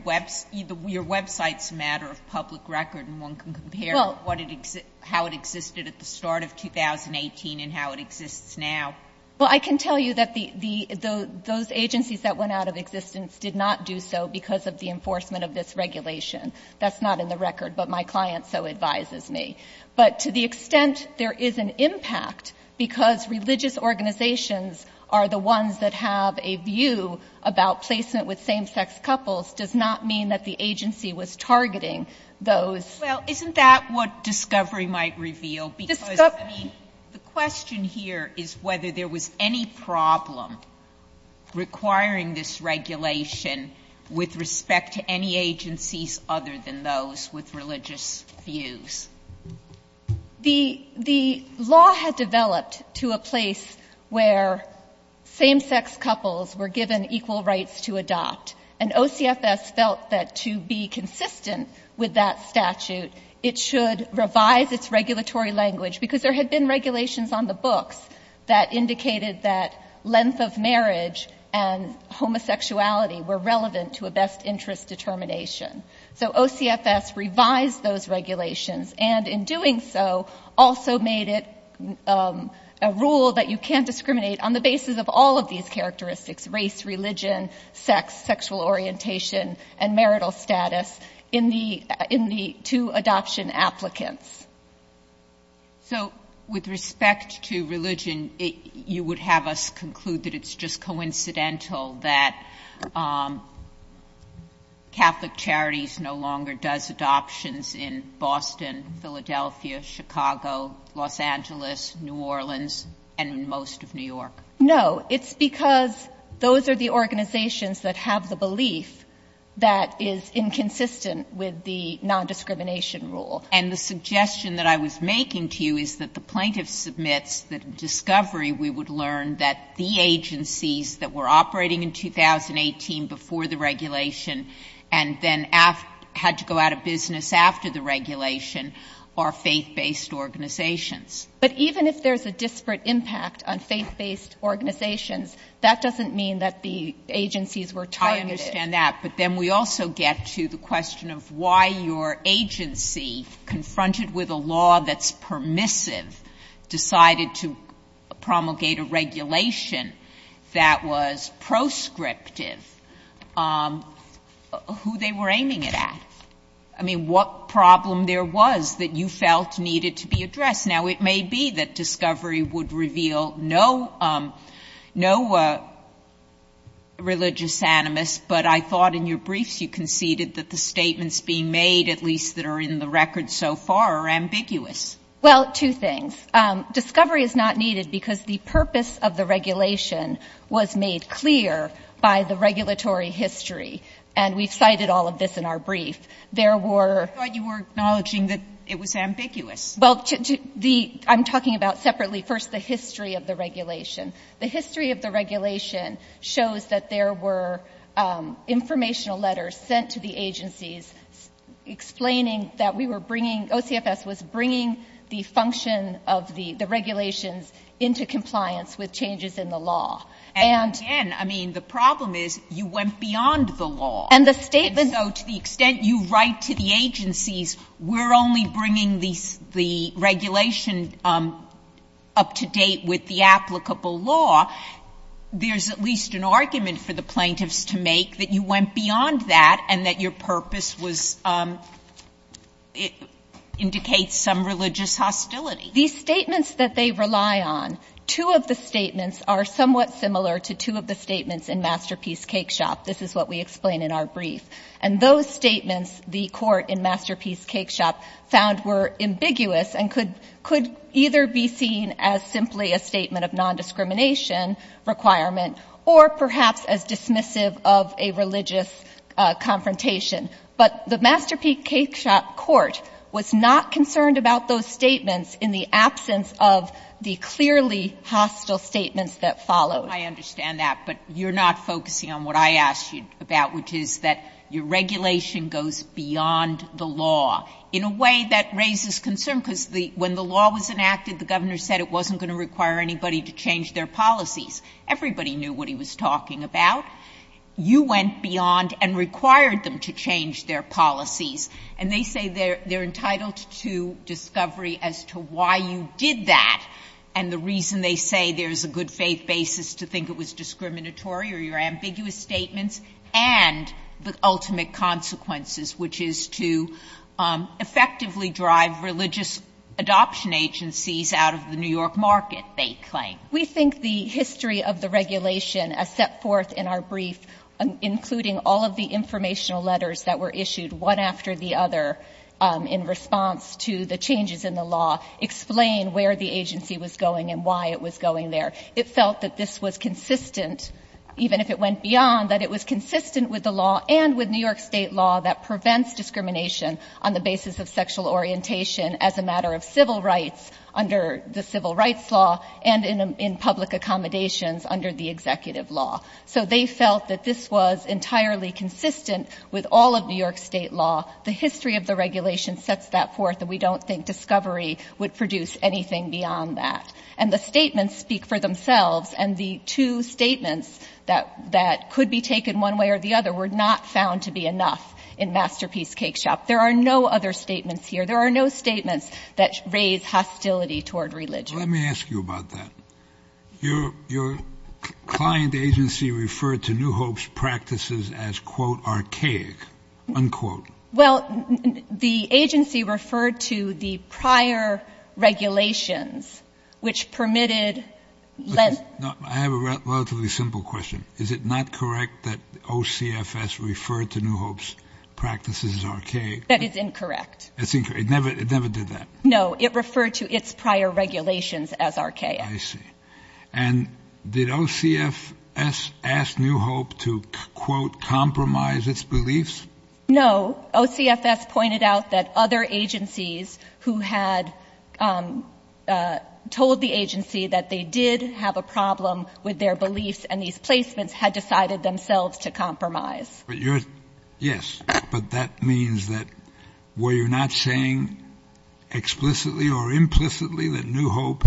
— your website's a matter of public record, and one can compare what it — how it existed at the start of 2018 and how it exists now. Well, I can tell you that the — those agencies that went out of existence did not do so because of the enforcement of this regulation. That's not in the record, but my client so advises me. But to the extent there is an impact because religious organizations are the ones that have a view about placement with same-sex couples does not mean that the agency was targeting those. Well, isn't that what discovery might reveal? Because, I mean, the question here is whether there was any problem requiring this regulation with respect to any agencies other than those with religious views. The law had developed to a place where same-sex couples were given equal rights to adopt, and OCFS felt that to be consistent with that statute, it should revise its regulatory language, because there had been regulations on the books that indicated that length of marriage and homosexuality were relevant to a best interest determination. So OCFS revised those regulations and, in doing so, also made it a rule that you can't discriminate on the basis of all of these characteristics—race, religion, sex, sexual orientation, and marital status—in the two adoption applicants. So with respect to religion, you would have us conclude that it's just coincidental that Catholic Charities no longer does adoptions in Boston, Philadelphia, Chicago, Los Angeles, New Orleans, and most of New York. No. It's because those are the organizations that have the belief that is inconsistent with the nondiscrimination rule. And the suggestion that I was making to you is that the plaintiff submits the discovery we would learn that the agencies that were operating in 2018 before the regulation and then had to go out of business after the regulation are faith-based organizations. But even if there's a disparate impact on faith-based organizations, that doesn't mean that the agencies were targeted. I understand that. But then we also get to the question of why your agency, confronted with a law that's permissive, decided to promulgate a regulation that was proscriptive, who they were aiming it at. I mean, what problem there was that you felt needed to be addressed? Now, it may be that discovery would reveal no religious animus, but I thought in your briefs you conceded that the statements being made, at least that are in the record so far, are ambiguous. Well, two things. Discovery is not needed because the purpose of the regulation was made clear by the regulatory history. And we've cited all of this in our brief. There were — I thought you were acknowledging that it was ambiguous. Well, the — I'm talking about separately, first, the history of the regulation. The history of the regulation shows that there were informational letters sent to the agencies explaining that we were bringing — OCFS was bringing the function of the regulations into compliance with changes in the law. And again, I mean, the problem is you went beyond the law. And the statement — So to the extent you write to the agencies, we're only bringing the regulation up to date with the applicable law, there's at least an argument for the plaintiffs to make that you went beyond that and that your purpose was — indicates some religious hostility. These statements that they rely on, two of the statements are somewhat similar to two of the statements in Masterpiece Cake Shop. This is what we explain in our brief. And those statements, the Court in Masterpiece Cake Shop found were ambiguous and could — could either be seen as simply a statement of nondiscrimination requirement or perhaps as dismissive of a religious confrontation. But the Masterpiece Cake Shop Court was not concerned about those statements in the absence of the clearly hostile statements that followed. Sotomayor, I understand that. But you're not focusing on what I asked you about, which is that your regulation goes beyond the law in a way that raises concern, because the — when the law was enacted, the governor said it wasn't going to require anybody to change their policies. Everybody knew what he was talking about. You went beyond and required them to change their policies. And they say they're entitled to discovery as to why you did that and the reason they say there's a good faith basis to think it was discriminatory or your ambiguous statements and the ultimate consequences, which is to effectively drive religious adoption agencies out of the New York market, they claim. We think the history of the regulation as set forth in our brief, including all of the informational letters that were issued one after the other in response to the changes in the law, explain where the agency was going and why it was going there. It felt that this was consistent, even if it went beyond, that it was consistent with the law and with New York State law that prevents discrimination on the basis of sexual orientation as a matter of civil rights under the civil rights law and in public accommodations under the executive law. So they felt that this was entirely consistent with all of New York State law. The history of the regulation sets that forth that we don't think discovery would produce anything beyond that. And the statements speak for themselves. And the two statements that could be taken one way or the other were not found to be enough in Masterpiece Cake Shop. There are no other statements here. There are no statements that raise hostility toward religion. Let me ask you about that. Your client agency referred to New Hope's practices as, quote, archaic, unquote. Well, the agency referred to the prior regulations, which permitted less. I have a relatively simple question. Is it not correct that OCFS referred to New Hope's practices as archaic? That is incorrect. It never did that. No. It referred to its prior regulations as archaic. I see. And did OCFS ask New Hope to, quote, compromise its beliefs? No. OCFS pointed out that other agencies who had told the agency that they did have a problem with their beliefs and these placements had decided themselves to compromise. Yes. But that means that were you not saying explicitly or implicitly that New Hope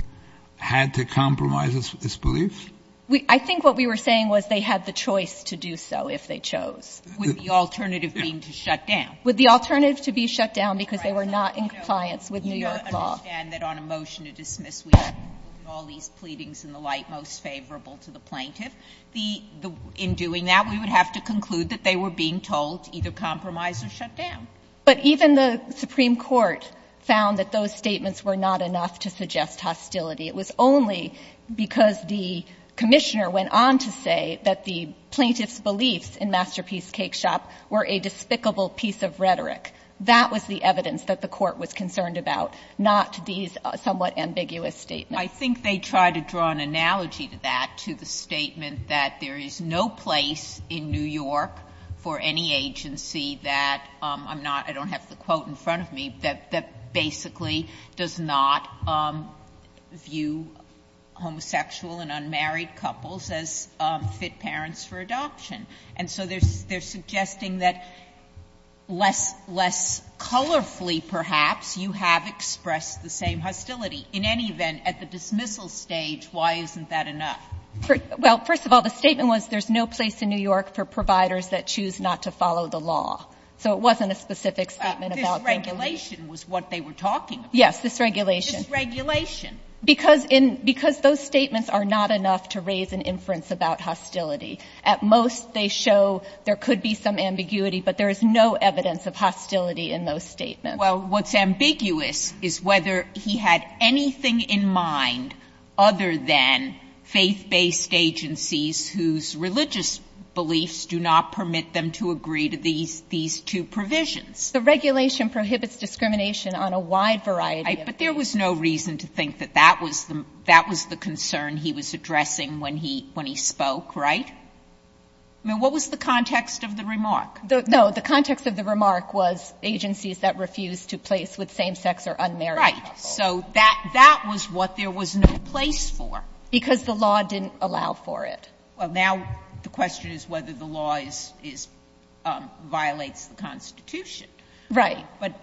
had to compromise its beliefs? I think what we were saying was they had the choice to do so if they chose. With the alternative being to shut down. With the alternative to be shut down because they were not in compliance with New York law. I understand that on a motion to dismiss, we have all these pleadings and the like most favorable to the plaintiff. The — in doing that, we would have to conclude that they were being told to either compromise or shut down. But even the Supreme Court found that those statements were not enough to suggest hostility. It was only because the Commissioner went on to say that the plaintiff's beliefs in Masterpiece Cake Shop were a despicable piece of rhetoric. That was the evidence that the Court was concerned about, not these somewhat ambiguous statements. I think they tried to draw an analogy to that, to the statement that there is no place in New York for any agency that I'm not — I don't have the quote in front of me, that basically does not view homosexual and unmarried couples as fit parents for adoption. And so they're suggesting that less colorfully, perhaps, you have expressed the same hostility. In any event, at the dismissal stage, why isn't that enough? Well, first of all, the statement was there's no place in New York for providers that choose not to follow the law. So it wasn't a specific statement about their beliefs. But this regulation was what they were talking about. Yes, this regulation. This regulation. Because in — because those statements are not enough to raise an inference about hostility. At most, they show there could be some ambiguity. But there is no evidence of hostility in those statements. Well, what's ambiguous is whether he had anything in mind other than faith-based agencies whose religious beliefs do not permit them to agree to these two provisions. The regulation prohibits discrimination on a wide variety of— Right. But there was no reason to think that that was the concern he was addressing when he spoke, right? I mean, what was the context of the remark? No. The context of the remark was agencies that refused to place with same-sex or unmarried couples. Right. So that was what there was no place for. Because the law didn't allow for it. Well, now the question is whether the law is — violates the Constitution. Right. But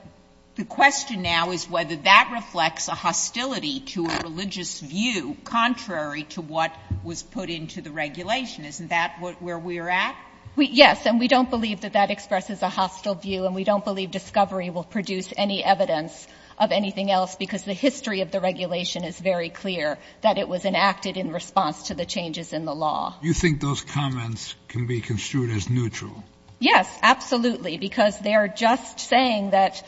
the question now is whether that reflects a hostility to a religious view contrary to what was put into the regulation. Isn't that where we're at? Yes. And we don't believe that that expresses a hostile view, and we don't believe discovery will produce any evidence of anything else, because the history of the regulation is very clear that it was enacted in response to the changes in the law. You think those comments can be construed as neutral? Yes, absolutely. Because they are just saying that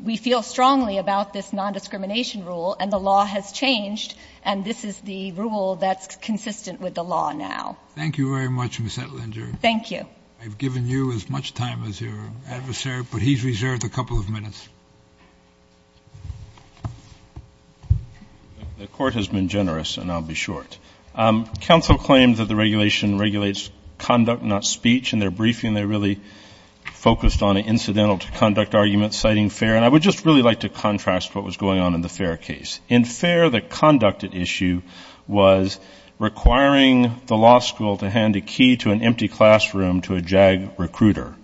we feel strongly about this nondiscrimination rule, and the law has changed, and this is the rule that's consistent with the law Thank you very much, Ms. Ettinger. Thank you. I've given you as much time as your adversary, but he's reserved a couple of minutes. The Court has been generous, and I'll be short. Counsel claimed that the regulation regulates conduct, not speech, and their briefing they really focused on an incidental-to-conduct argument citing fair. And I would just really like to contrast what was going on in the fair case. In fair, the conduct at issue was requiring the law school to hand a key to an empty classroom to a JAG recruiter.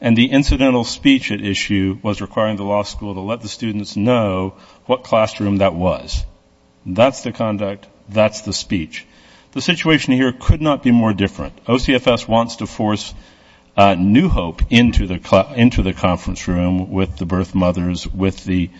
And the incidental speech at issue was requiring the law school to let the students know what classroom that was. That's the conduct. That's the speech. The situation here could not be more different. OCFS wants to force new hope into the conference room with the birth mothers, with the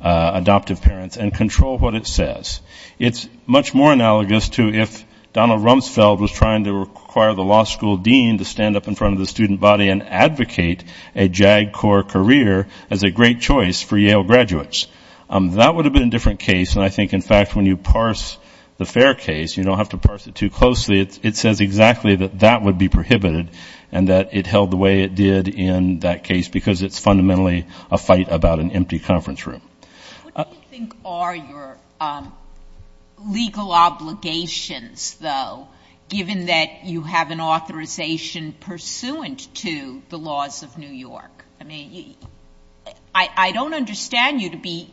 adoptive parents, and control what it says. It's much more analogous to if Donald Rumsfeld was trying to require the law school dean to stand up in front of the student body and advocate a JAG core career as a great choice for Yale graduates. That would have been a different case. And I think, in fact, when you parse the fair case, you don't have to parse it too closely, it says exactly that that would be prohibited and that it held the way it did in that case because it's fundamentally a fight about an empty conference room. What do you think are your legal obligations, though, given that you have an authorization pursuant to the laws of New York? I mean, I don't understand you to be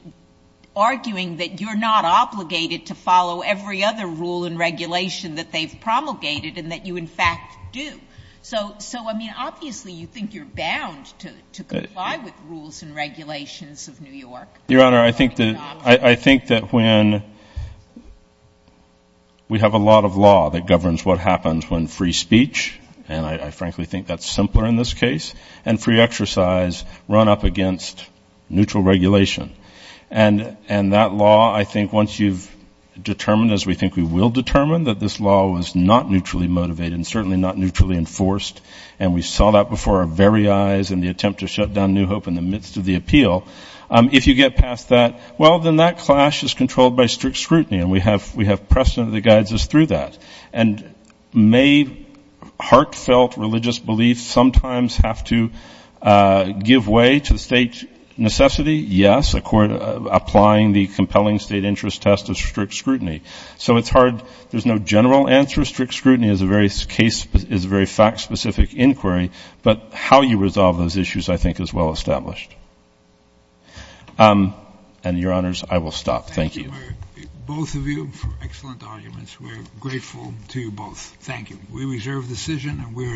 arguing that you're not obligated to follow every other rule and regulation that they've promulgated and that you, in fact, do. So, I mean, obviously you think you're bound to comply with rules and regulations of New York. Your Honor, I think that when we have a lot of law that governs what happens when free speech, and I frankly think that's simpler in this case, and free exercise run up against neutral regulation. And that law, I think once you've determined, as we think we will determine, that this law was not neutrally motivated and certainly not neutrally enforced, and we saw that before our very eyes in the attempt to shut down New Hope in the midst of the appeal, if you get past that, well, then that clash is controlled by strict scrutiny and we have precedent that guides us through that. And may heartfelt religious beliefs sometimes have to give way to state necessity? Yes, applying the compelling state interest test of strict scrutiny. So it's hard. There's no general answer. Strict scrutiny is a very fact-specific inquiry. But how you resolve those issues, I think, is well established. And, Your Honors, I will stop. Thank you. Thank you, both of you for excellent arguments. We're grateful to you both. Thank you. We reserve the decision and we're adjourned.